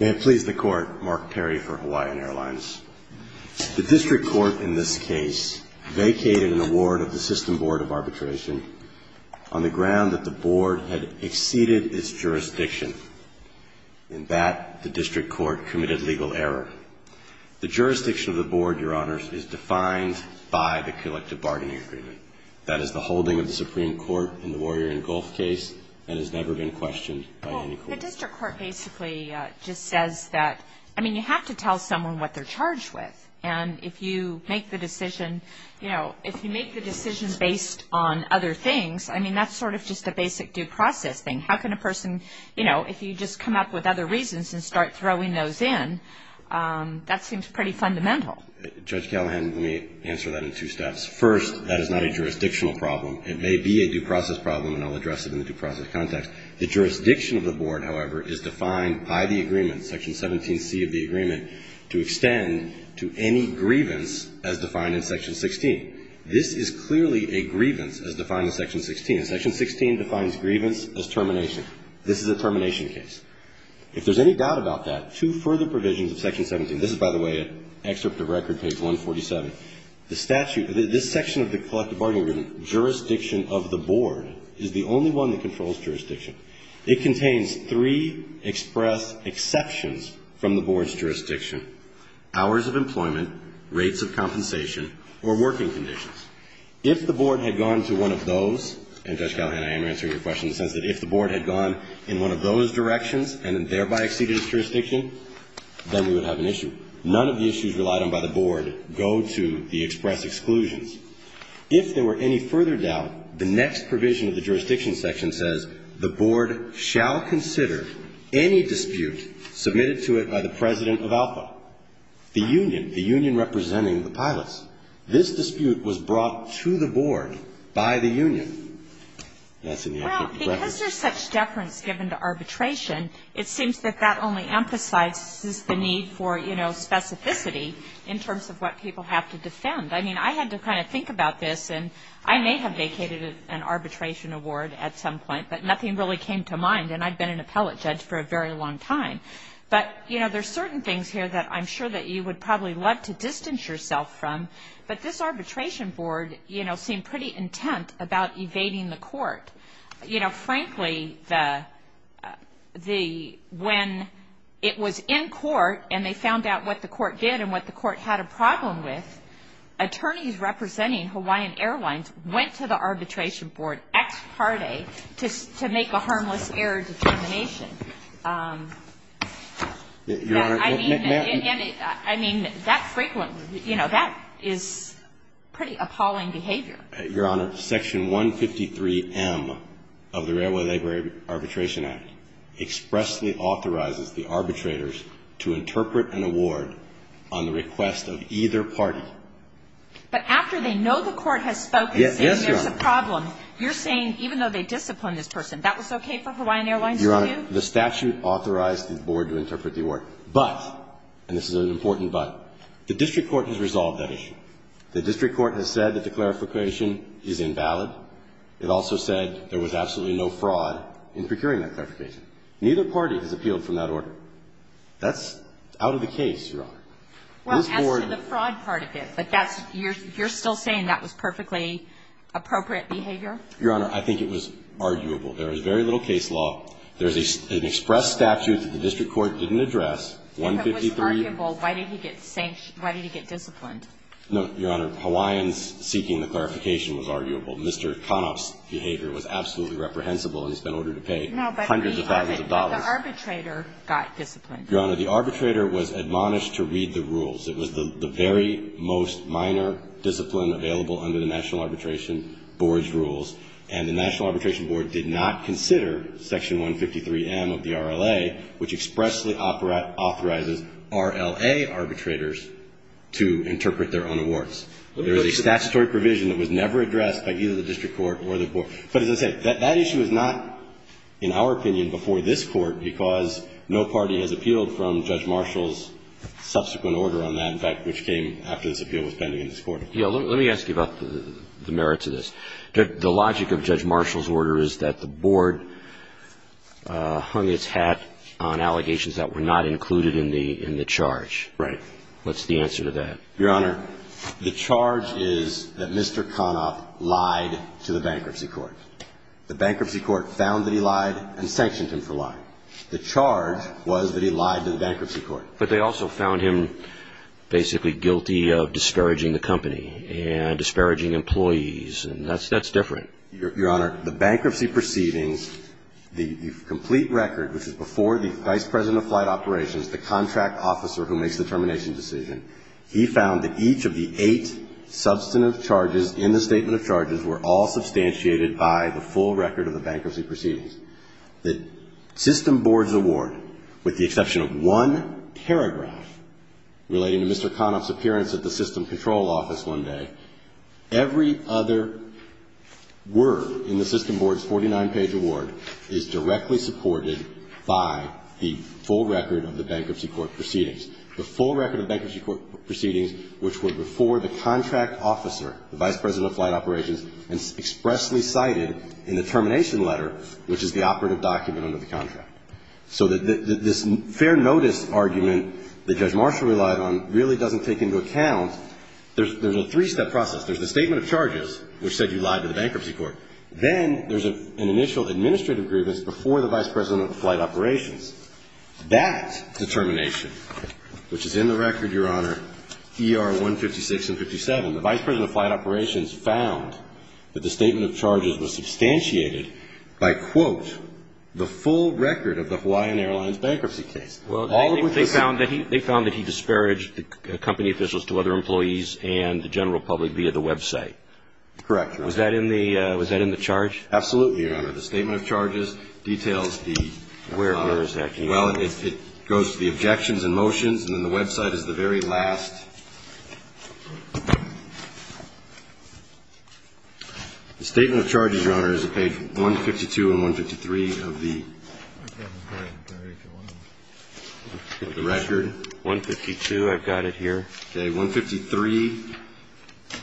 May it please the Court, Mark Perry for Hawaiian Airlines. The District Court in this case vacated an award of the System Board of Arbitration on the ground that the Board had exceeded its jurisdiction. In that, the District Court committed legal error. The jurisdiction of the Board, Your Honors, is defined by the Collective Bargaining Agreement. That is the holding of the Supreme Court in the Warrior and Gulf case and has never been questioned by any court. The District Court basically just says that, I mean, you have to tell someone what they're charged with. And if you make the decision, you know, if you make the decision based on other things, I mean, that's sort of just a basic due process thing. How can a person, you know, if you just come up with other reasons and start throwing those in, that seems pretty fundamental. Judge Callahan, let me answer that in two steps. First, that is not a jurisdictional problem. It may be a due process problem, and I'll address it in the due process context. The jurisdiction of the Board, however, is defined by the agreement, Section 17C of the agreement, to extend to any grievance as defined in Section 16. This is clearly a grievance as defined in Section 16. Section 16 defines grievance as termination. This is a termination case. If there's any doubt about that, two further provisions of Section 17. This is, by the way, an excerpt of Record Page 147. The statute, this section of the collective bargaining agreement, jurisdiction of the Board, is the only one that controls jurisdiction. It contains three express exceptions from the Board's jurisdiction. Hours of employment, rates of compensation, or working conditions. If the Board had gone to one of those, and Judge Callahan, I am answering your question in the sense that if the Board had gone in one of those directions and thereby exceeded its jurisdiction, then we would have an issue. None of the issues relied on by the Board go to the express exclusions. If there were any further doubt, the next provision of the jurisdiction section says, the Board shall consider any dispute submitted to it by the President of Alpha. The union, the union representing the pilots. This dispute was brought to the Board by the union. That's in the upper preference. Because there's such deference given to arbitration, it seems that that only emphasizes the need for, you know, specificity in terms of what people have to defend. I mean, I had to kind of think about this, and I may have vacated an arbitration award at some point, but nothing really came to mind, and I've been an appellate judge for a very long time. But, you know, there's certain things here that I'm sure that you would probably love to distance yourself from, but this arbitration board, you know, seemed pretty intent about evading the court. You know, frankly, when it was in court and they found out what the court did and what the court had a problem with, attorneys representing Hawaiian Airlines went to the arbitration board ex parte to make a harmless error determination. I mean, that frequently, you know, that is pretty appalling behavior. Your Honor, Section 153M of the Railway Labor Arbitration Act expressly authorizes the arbitrators to interpret an award on the request of either party. But after they know the court has spoken, saying there's a problem, you're saying even though they disciplined this person, that was okay for Hawaiian Airlines to do? Your Honor, the statute authorized the board to interpret the award. But, and this is an important but, the district court has resolved that issue. The district court has said that the clarification is invalid. It also said there was absolutely no fraud in procuring that clarification. Neither party has appealed from that order. That's out of the case, Your Honor. This board ---- Well, as to the fraud part of it, but that's, you're still saying that was perfectly appropriate behavior? Your Honor, I think it was arguable. There was very little case law. There's an express statute that the district court didn't address, 153---- If it was arguable, why did he get sanctioned, why did he get disciplined? No, Your Honor. Hawaiians seeking the clarification was arguable. Mr. Conop's behavior was absolutely reprehensible, and he's been ordered to pay hundreds of thousands of dollars. No, but the arbitrator got disciplined. Your Honor, the arbitrator was admonished to read the rules. It was the very most minor discipline available under the National Arbitration Board's rules. And the National Arbitration Board did not consider Section 153M of the RLA, which was a statutory provision that was never addressed by either the district court or the board. But as I said, that issue is not, in our opinion, before this Court, because no party has appealed from Judge Marshall's subsequent order on that, in fact, which came after this appeal was pending in this Court. Yeah. Let me ask you about the merits of this. The logic of Judge Marshall's order is that the board hung its hat on allegations that were not included in the charge. Right. What's the answer to that? Your Honor, the charge is that Mr. Conoff lied to the bankruptcy court. The bankruptcy court found that he lied and sanctioned him for lying. The charge was that he lied to the bankruptcy court. But they also found him basically guilty of disparaging the company and disparaging employees, and that's different. Your Honor, the bankruptcy proceedings, the complete record, which is before the vice president of flight operations, the contract officer who makes the termination decision, he found that each of the eight substantive charges in the statement of charges were all substantiated by the full record of the bankruptcy proceedings. The system board's award, with the exception of one paragraph relating to Mr. Conoff's appearance at the system control office one day, every other word in the system board's 49-page award is directly supported by the full record of the bankruptcy court proceedings. The full record of bankruptcy court proceedings, which were before the contract officer, the vice president of flight operations, and expressly cited in the termination letter, which is the operative document under the contract. So this fair notice argument that Judge Marshall relied on really doesn't take into account, there's a three-step process. There's the statement of charges, which said you lied to the bankruptcy court. Then there's an initial administrative grievance before the vice president of flight operations. That determination, which is in the record, Your Honor, ER 156 and 57, the vice president of flight operations found that the statement of charges was substantiated by, quote, the full record of the Hawaiian Airlines bankruptcy case. Well, they found that he disparaged the company officials to other employees and the general public via the website. Correct, Your Honor. Was that in the charge? Absolutely, Your Honor. The statement of charges details the, Your Honor. Where is that? Well, it goes to the objections and motions, and then the website is the very last. The statement of charges, Your Honor, is on page 152 and 153 of the record. 152, I've got it here. Okay. 153,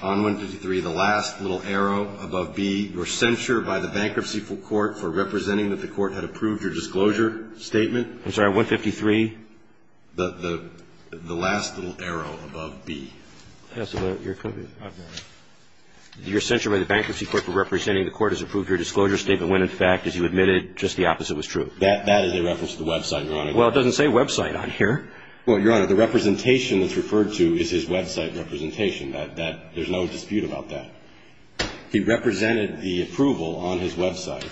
on 153, the last little arrow above B, you're censured by the bankruptcy court for representing that the court had approved your disclosure statement. I'm sorry, 153? The last little arrow above B. Yes, Your Honor. You're censured by the bankruptcy court for representing the court has approved your disclosure statement when, in fact, as you admitted, just the opposite was true. That is a reference to the website, Your Honor. Well, it doesn't say website on here. Well, Your Honor, the representation that's referred to is his website representation. There's no dispute about that. He represented the approval on his website,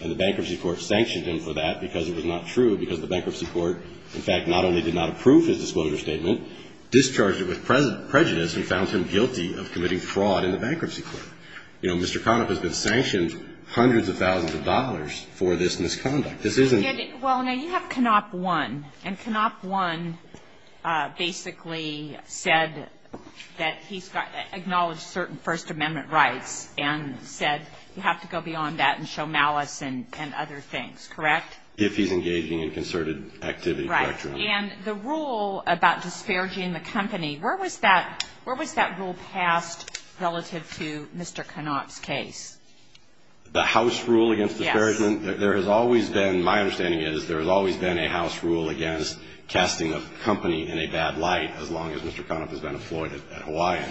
and the bankruptcy court sanctioned him for that because it was not true, because the bankruptcy court, in fact, not only did not approve his disclosure statement, discharged it with prejudice and found him guilty of committing fraud in the bankruptcy court. You know, Mr. Konop has been sanctioned hundreds of thousands of dollars for this misconduct. This isn't the case. Well, now, you have Konop 1, and Konop 1 basically said that he's got acknowledged certain First Amendment rights and said you have to go beyond that and show malice and other things. Correct? If he's engaging in concerted activity. Right. And the rule about disparaging the company, where was that rule passed relative to Mr. Konop's case? The House rule against disparagement? Yes. There has always been, my understanding is, there has always been a House rule against casting a company in a bad light as long as Mr. Konop has been employed at Hawaiian.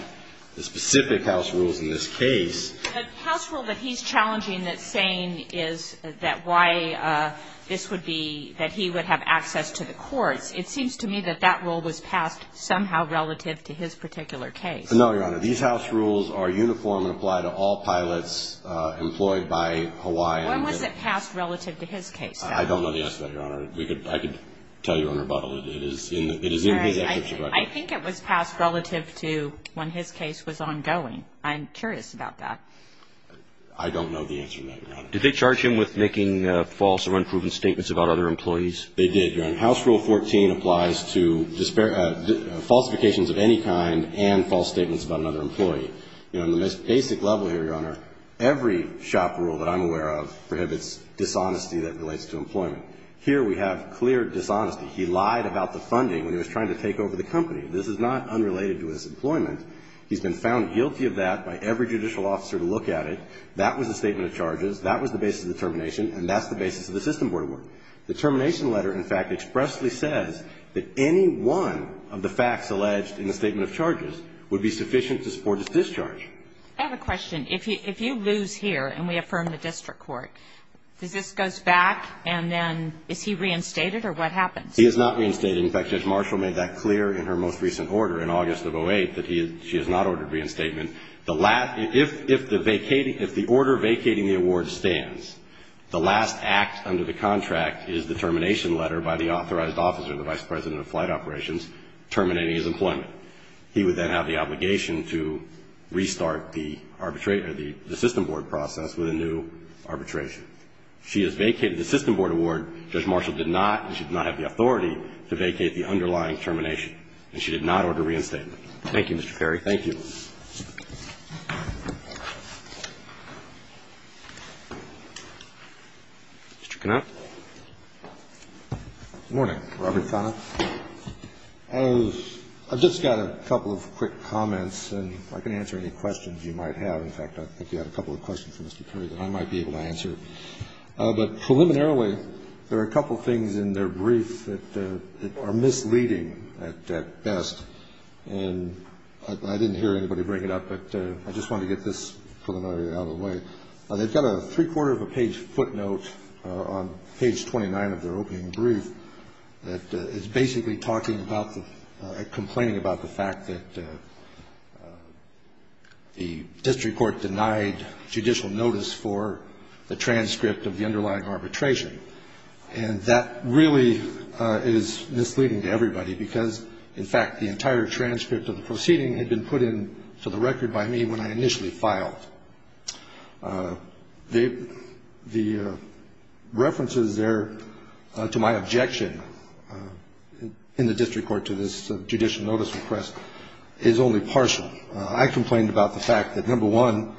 The specific House rules in this case. The House rule that he's challenging that's saying is that why this would be that he would have access to the courts, it seems to me that that rule was passed somehow relative to his particular case. No, Your Honor. These House rules are uniform and apply to all pilots employed by Hawaiian. When was it passed relative to his case? I don't know the answer to that, Your Honor. I could tell you on rebuttal. It is in the executive record. I think it was passed relative to when his case was ongoing. I'm curious about that. I don't know the answer to that, Your Honor. Did they charge him with making false or unproven statements about other employees? They did, Your Honor. House rule 14 applies to falsifications of any kind and false statements about another employee. On the most basic level here, Your Honor, every shop rule that I'm aware of prohibits dishonesty that relates to employment. Here we have clear dishonesty. He lied about the funding when he was trying to take over the company. This is not unrelated to his employment. He's been found guilty of that by every judicial officer to look at it. That was a statement of charges. That was the basis of the termination. And that's the basis of the system board award. The termination letter, in fact, expressly says that any one of the facts alleged in the statement of charges would be sufficient to support his discharge. I have a question. If you lose here and we affirm the district court, does this go back and then is he reinstated or what happens? He is not reinstated. In fact, Judge Marshall made that clear in her most recent order in August of 08 that she has not ordered reinstatement. If the order vacating the award stands, the last act under the contract is the termination letter by the He would then have the obligation to restart the system board process with a new arbitration. She has vacated the system board award. Judge Marshall did not and should not have the authority to vacate the underlying termination. And she did not order reinstatement. Thank you, Mr. Perry. Thank you. Mr. Conant. Good morning. Robert Conant. I've just got a couple of quick comments and I can answer any questions you might have. In fact, I think you had a couple of questions for Mr. Perry that I might be able to answer. But preliminarily, there are a couple of things in their brief that are misleading at best. And I didn't hear anybody bring it up, but I just wanted to get this preliminary out of the way. They've got a three-quarter of a page footnote on page 29 of their opening brief that is basically talking about or complaining about the fact that the district court denied judicial notice for the transcript of the underlying arbitration. And that really is misleading to everybody because, in fact, the entire transcript of the proceeding had been put in for the record by me when I initially filed. The references there to my objection in the district court to this judicial notice request is only partial. I complained about the fact that, number one,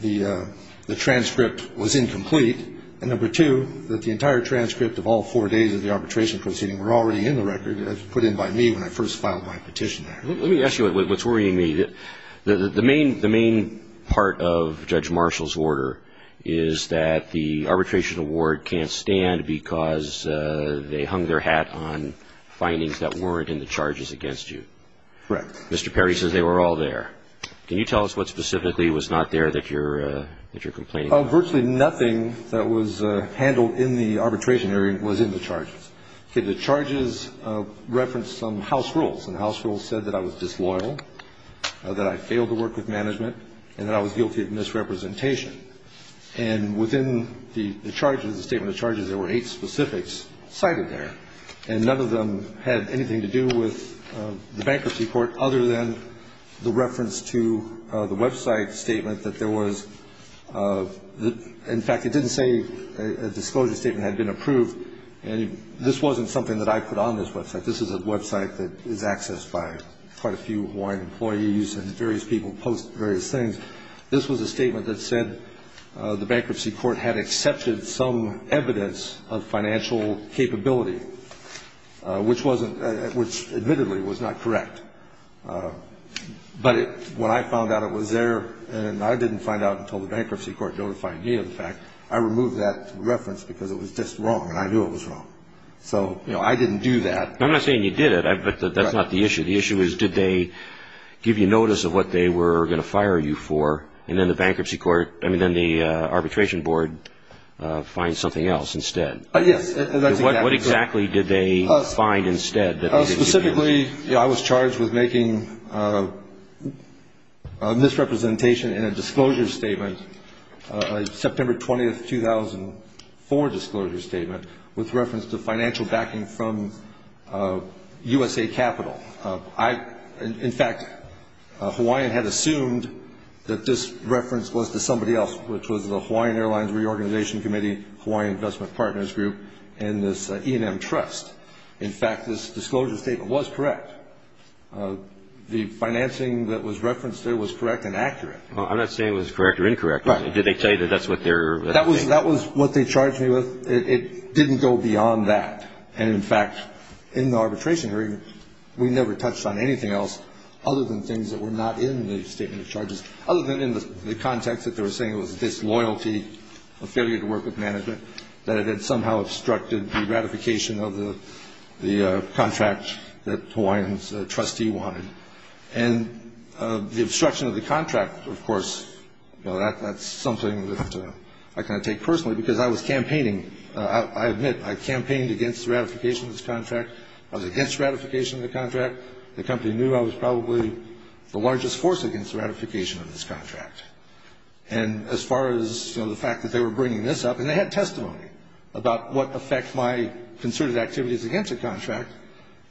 the transcript was incomplete, and, number two, that the entire transcript of all four days of the arbitration proceeding were already in the record as put in by me when I first filed my petition. Let me ask you what's worrying me. The main part of Judge Marshall's order is that the arbitration award can't stand because they hung their hat on findings that weren't in the charges against you. Correct. Mr. Perry says they were all there. Can you tell us what specifically was not there that you're complaining about? Virtually nothing that was handled in the arbitration area was in the charges. The charges referenced some house rules, and the house rules said that I was disloyal, that I failed to work with management, and that I was guilty of misrepresentation. And within the charges, the statement of charges, there were eight specifics cited there, and none of them had anything to do with the bankruptcy court other than the reference to the website statement that there was the ‑‑ in fact, it didn't say a disclosure statement had been approved, and this wasn't something that I put on this website. This is a website that is accessed by quite a few Hawaiian employees, and various people post various things. This was a statement that said the bankruptcy court had accepted some evidence of financial capability, which admittedly was not correct. But when I found out it was there, and I didn't find out until the bankruptcy court notified me of the fact, I removed that reference because it was just wrong, and I knew it was wrong. So, you know, I didn't do that. I'm not saying you did it. That's not the issue. The issue is did they give you notice of what they were going to fire you for, and then the bankruptcy court ‑‑ I mean, then the arbitration board finds something else instead. Yes. What exactly did they find instead? Specifically, I was charged with making a misrepresentation in a disclosure statement, a September 20, 2004 disclosure statement, with reference to financial backing from USA Capital. In fact, Hawaiian had assumed that this reference was to somebody else, which was the Hawaiian Airlines Reorganization Committee, Hawaiian Investment Partners Group, and this E&M Trust. In fact, this disclosure statement was correct. The financing that was referenced there was correct and accurate. I'm not saying it was correct or incorrect. Right. Did they tell you that that's what they're ‑‑ That was what they charged me with. It didn't go beyond that. And, in fact, in the arbitration hearing, we never touched on anything else other than things that were not in the statement of charges, other than in the context that they were saying it was a disloyalty, a failure to work with management, that it had somehow obstructed the ratification of the contract that Hawaiian's trustee wanted. And the obstruction of the contract, of course, that's something that I kind of take personally, because I was campaigning. I admit, I campaigned against the ratification of this contract. I was against ratification of the contract. The company knew I was probably the largest force against the ratification of this contract. And as far as, you know, the fact that they were bringing this up, and they had testimony about what effect my concerted activities against the contract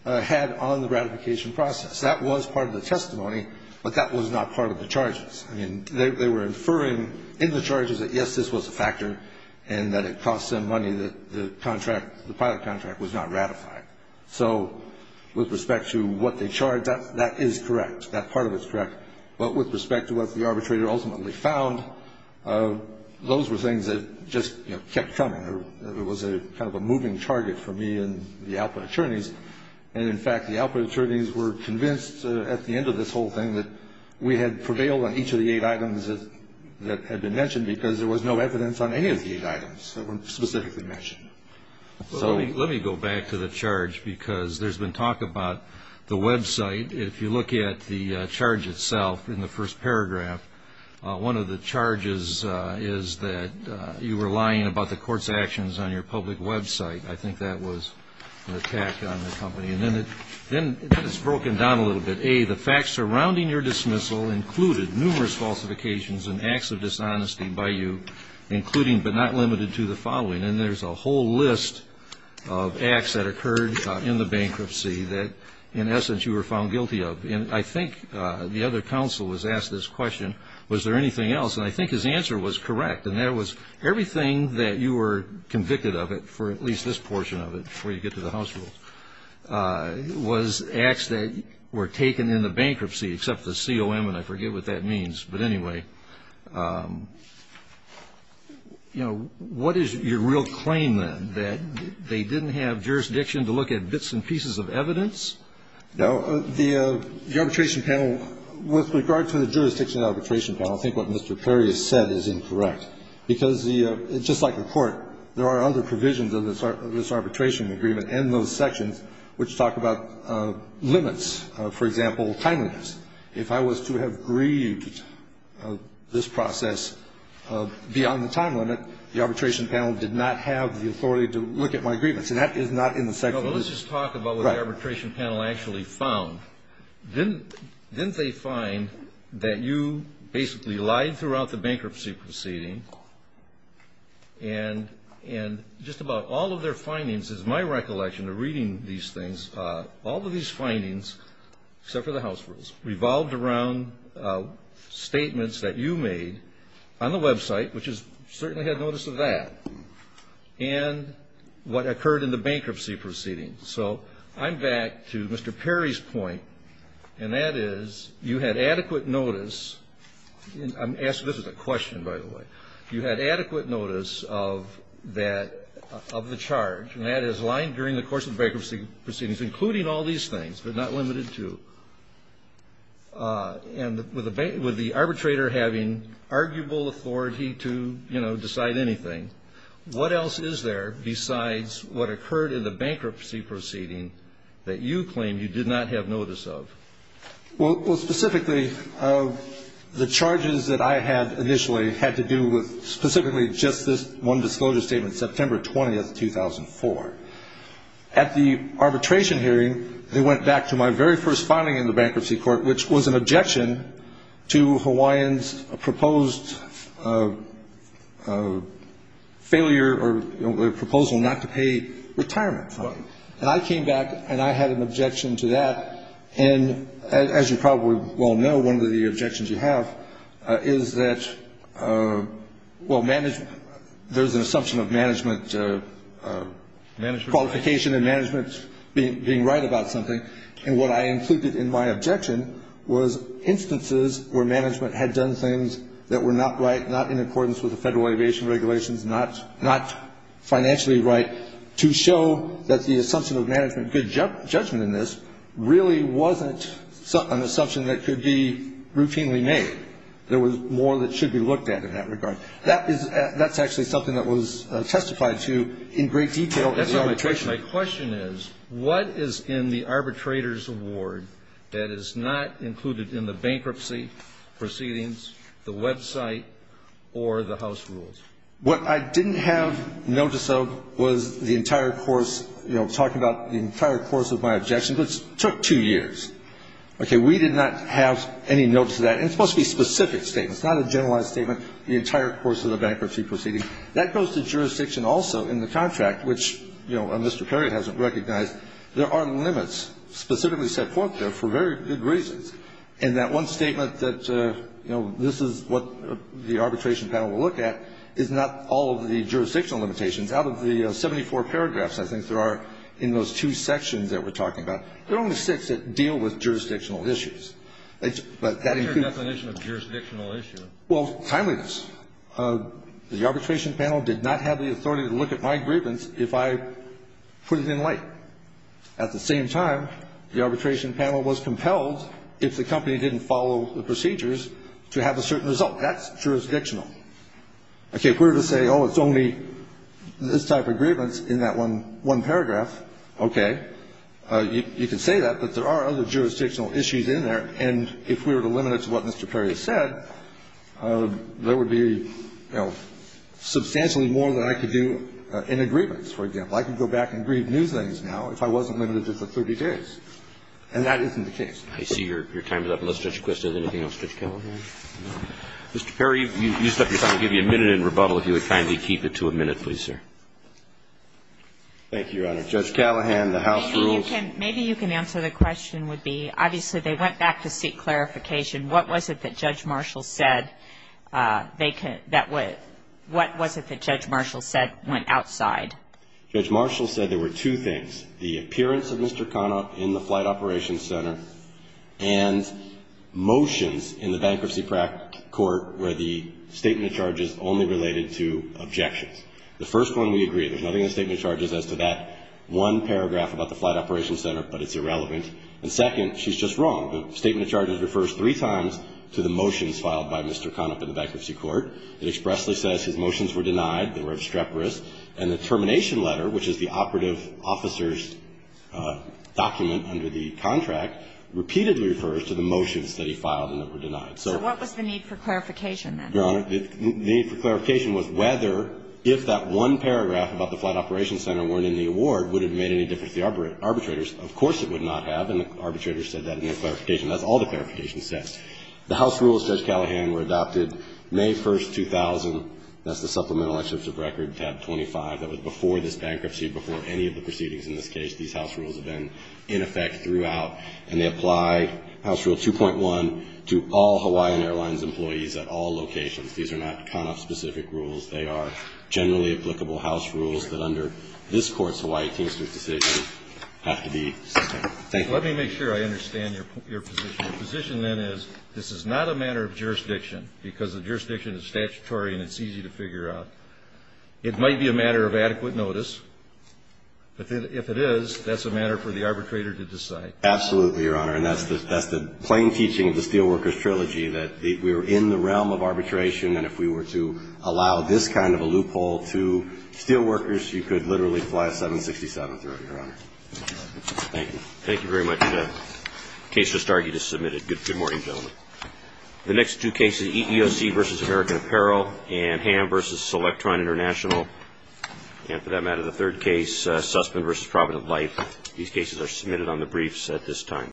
had on the ratification process. That was part of the testimony, but that was not part of the charges. I mean, they were inferring in the charges that, yes, this was a factor, and that it cost them money that the contract, the pilot contract, was not ratified. So, with respect to what they charged, that is correct. That part of it is correct. But with respect to what the arbitrator ultimately found, those were things that just, you know, kept coming. It was kind of a moving target for me and the output attorneys. And, in fact, the output attorneys were convinced at the end of this whole thing that we had prevailed on each of the eight items that had been mentioned, because there was no evidence on any of the eight items that were specifically mentioned. Well, let me go back to the charge, because there's been talk about the website. If you look at the charge itself in the first paragraph, one of the charges is that you were lying about the court's actions on your public website. I think that was an attack on the company. And then it's broken down a little bit. A, the facts surrounding your dismissal included numerous falsifications and acts of dishonesty by you, including but not limited to the following. And there's a whole list of acts that occurred in the bankruptcy that, in essence, you were found guilty of. And I think the other counsel was asked this question, was there anything else? And I think his answer was correct. And that was everything that you were convicted of it, for at least this portion of it, before you get to the house rules, was acts that were taken in the bankruptcy, except the COM, and I forget what that means. But anyway, you know, what is your real claim, then? That they didn't have jurisdiction to look at bits and pieces of evidence? No. The arbitration panel, with regard to the jurisdiction of the arbitration panel, I think what Mr. Perry has said is incorrect. Because just like the court, there are other provisions of this arbitration agreement and those sections which talk about limits, for example, timeliness. If I was to have grieved this process beyond the time limit, the arbitration panel did not have the authority to look at my grievance, and that is not in the section. Well, let's just talk about what the arbitration panel actually found. Didn't they find that you basically lied throughout the bankruptcy proceeding, and just about all of their findings, as my recollection of reading these things, all of these findings, except for the house rules, revolved around statements that you made on the Web site, which certainly had notice of that, and what occurred in the bankruptcy proceeding. So I'm back to Mr. Perry's point, and that is you had adequate notice. I'm asking this as a question, by the way. You had adequate notice of that, of the charge, and that is lying during the course of the bankruptcy proceedings, including all these things, but not limited to. And with the arbitrator having arguable authority to, you know, decide anything, what else is there besides what occurred in the bankruptcy proceeding that you claim you did not have notice of? Well, specifically, the charges that I had initially had to do with specifically just this one disclosure statement, dated September 20, 2004. At the arbitration hearing, they went back to my very first finding in the bankruptcy court, which was an objection to Hawaiians' proposed failure or proposal not to pay retirement fund. And I came back, and I had an objection to that, and as you probably well know, one of the objections you have is that, well, there's an assumption of management qualification and management being right about something, and what I included in my objection was instances where management had done things that were not right, not in accordance with the Federal Aviation Regulations, not financially right, to show that the assumption of management good judgment in this really wasn't an assumption that could be routinely made. There was more that should be looked at in that regard. That's actually something that was testified to in great detail at the arbitration. My question is, what is in the arbitrator's award that is not included in the bankruptcy proceedings, the website, or the house rules? What I didn't have notice of was the entire course, you know, talking about the entire course of my objection, which took two years. Okay. We did not have any notice of that, and it's supposed to be a specific statement. It's not a generalized statement, the entire course of the bankruptcy proceedings. That goes to jurisdiction also in the contract, which, you know, Mr. Perry hasn't recognized. There are limits specifically set forth there for very good reasons, and that one statement that, you know, this is what the arbitration panel will look at is not all of the jurisdictional limitations. Out of the 74 paragraphs, I think there are in those two sections that we're talking about, there are only six that deal with jurisdictional issues. But that includes. What's your definition of jurisdictional issue? Well, timeliness. The arbitration panel did not have the authority to look at my grievance if I put it in late. At the same time, the arbitration panel was compelled, if the company didn't follow the procedures, to have a certain result. That's jurisdictional. Okay. If we were to say, oh, it's only this type of grievance in that one paragraph, okay, you can say that, but there are other jurisdictional issues in there. And if we were to limit it to what Mr. Perry has said, there would be, you know, substantially more than I could do in a grievance, for example. I could go back and grieve new things now if I wasn't limited to the 30 days. And that isn't the case. I see your time is up. Unless Judge Quist has anything else. Judge Callahan? No. Mr. Perry, you used up your time. I'll give you a minute in rebuttal if you would kindly keep it to a minute, please, Thank you, Your Honor. All right. Judge Callahan, the House rules. Maybe you can answer the question would be, obviously, they went back to seek clarification. What was it that Judge Marshall said went outside? Judge Marshall said there were two things, the appearance of Mr. Conop in the Flight Operations Center and motions in the Bankruptcy Court where the statement of charges only related to objections. The first one we agree. There's nothing in the statement of charges as to that one paragraph about the Flight Operations Center, but it's irrelevant. And second, she's just wrong. The statement of charges refers three times to the motions filed by Mr. Conop in the Bankruptcy Court. It expressly says his motions were denied, they were extreporous. And the termination letter, which is the operative officer's document under the contract, repeatedly refers to the motions that he filed and that were denied. So what was the need for clarification then? Your Honor, the need for clarification was whether if that one paragraph about the Flight Operations Center weren't in the award, would it have made any difference to the arbitrators? Of course it would not have, and the arbitrators said that in their clarification. That's all the clarification says. The House rules, Judge Callahan, were adopted May 1, 2000. That's the Supplemental Excerpt of Record, tab 25. That was before this bankruptcy, before any of the proceedings in this case. These House rules have been in effect throughout. And they apply House Rule 2.1 to all Hawaiian Airlines employees at all locations. These are not Conop-specific rules. They are generally applicable House rules that under this Court's Hawaii Teamsters decision have to be sustained. Thank you. Let me make sure I understand your position. Your position, then, is this is not a matter of jurisdiction because the jurisdiction is statutory and it's easy to figure out. It might be a matter of adequate notice, but if it is, that's a matter for the arbitrator to decide. Absolutely, Your Honor. And that's the plain teaching of the Steelworkers Trilogy, that we're in the realm of arbitration, and if we were to allow this kind of a loophole to steelworkers, you could literally fly a 767 through it, Your Honor. Thank you. Thank you very much. Case for Starkey just submitted. Good morning, gentlemen. The next two cases, EEOC v. American Apparel and Ham v. Selectron International, and for that matter, the third case, Sussman v. Provident Life. These cases are submitted on the briefs at this time.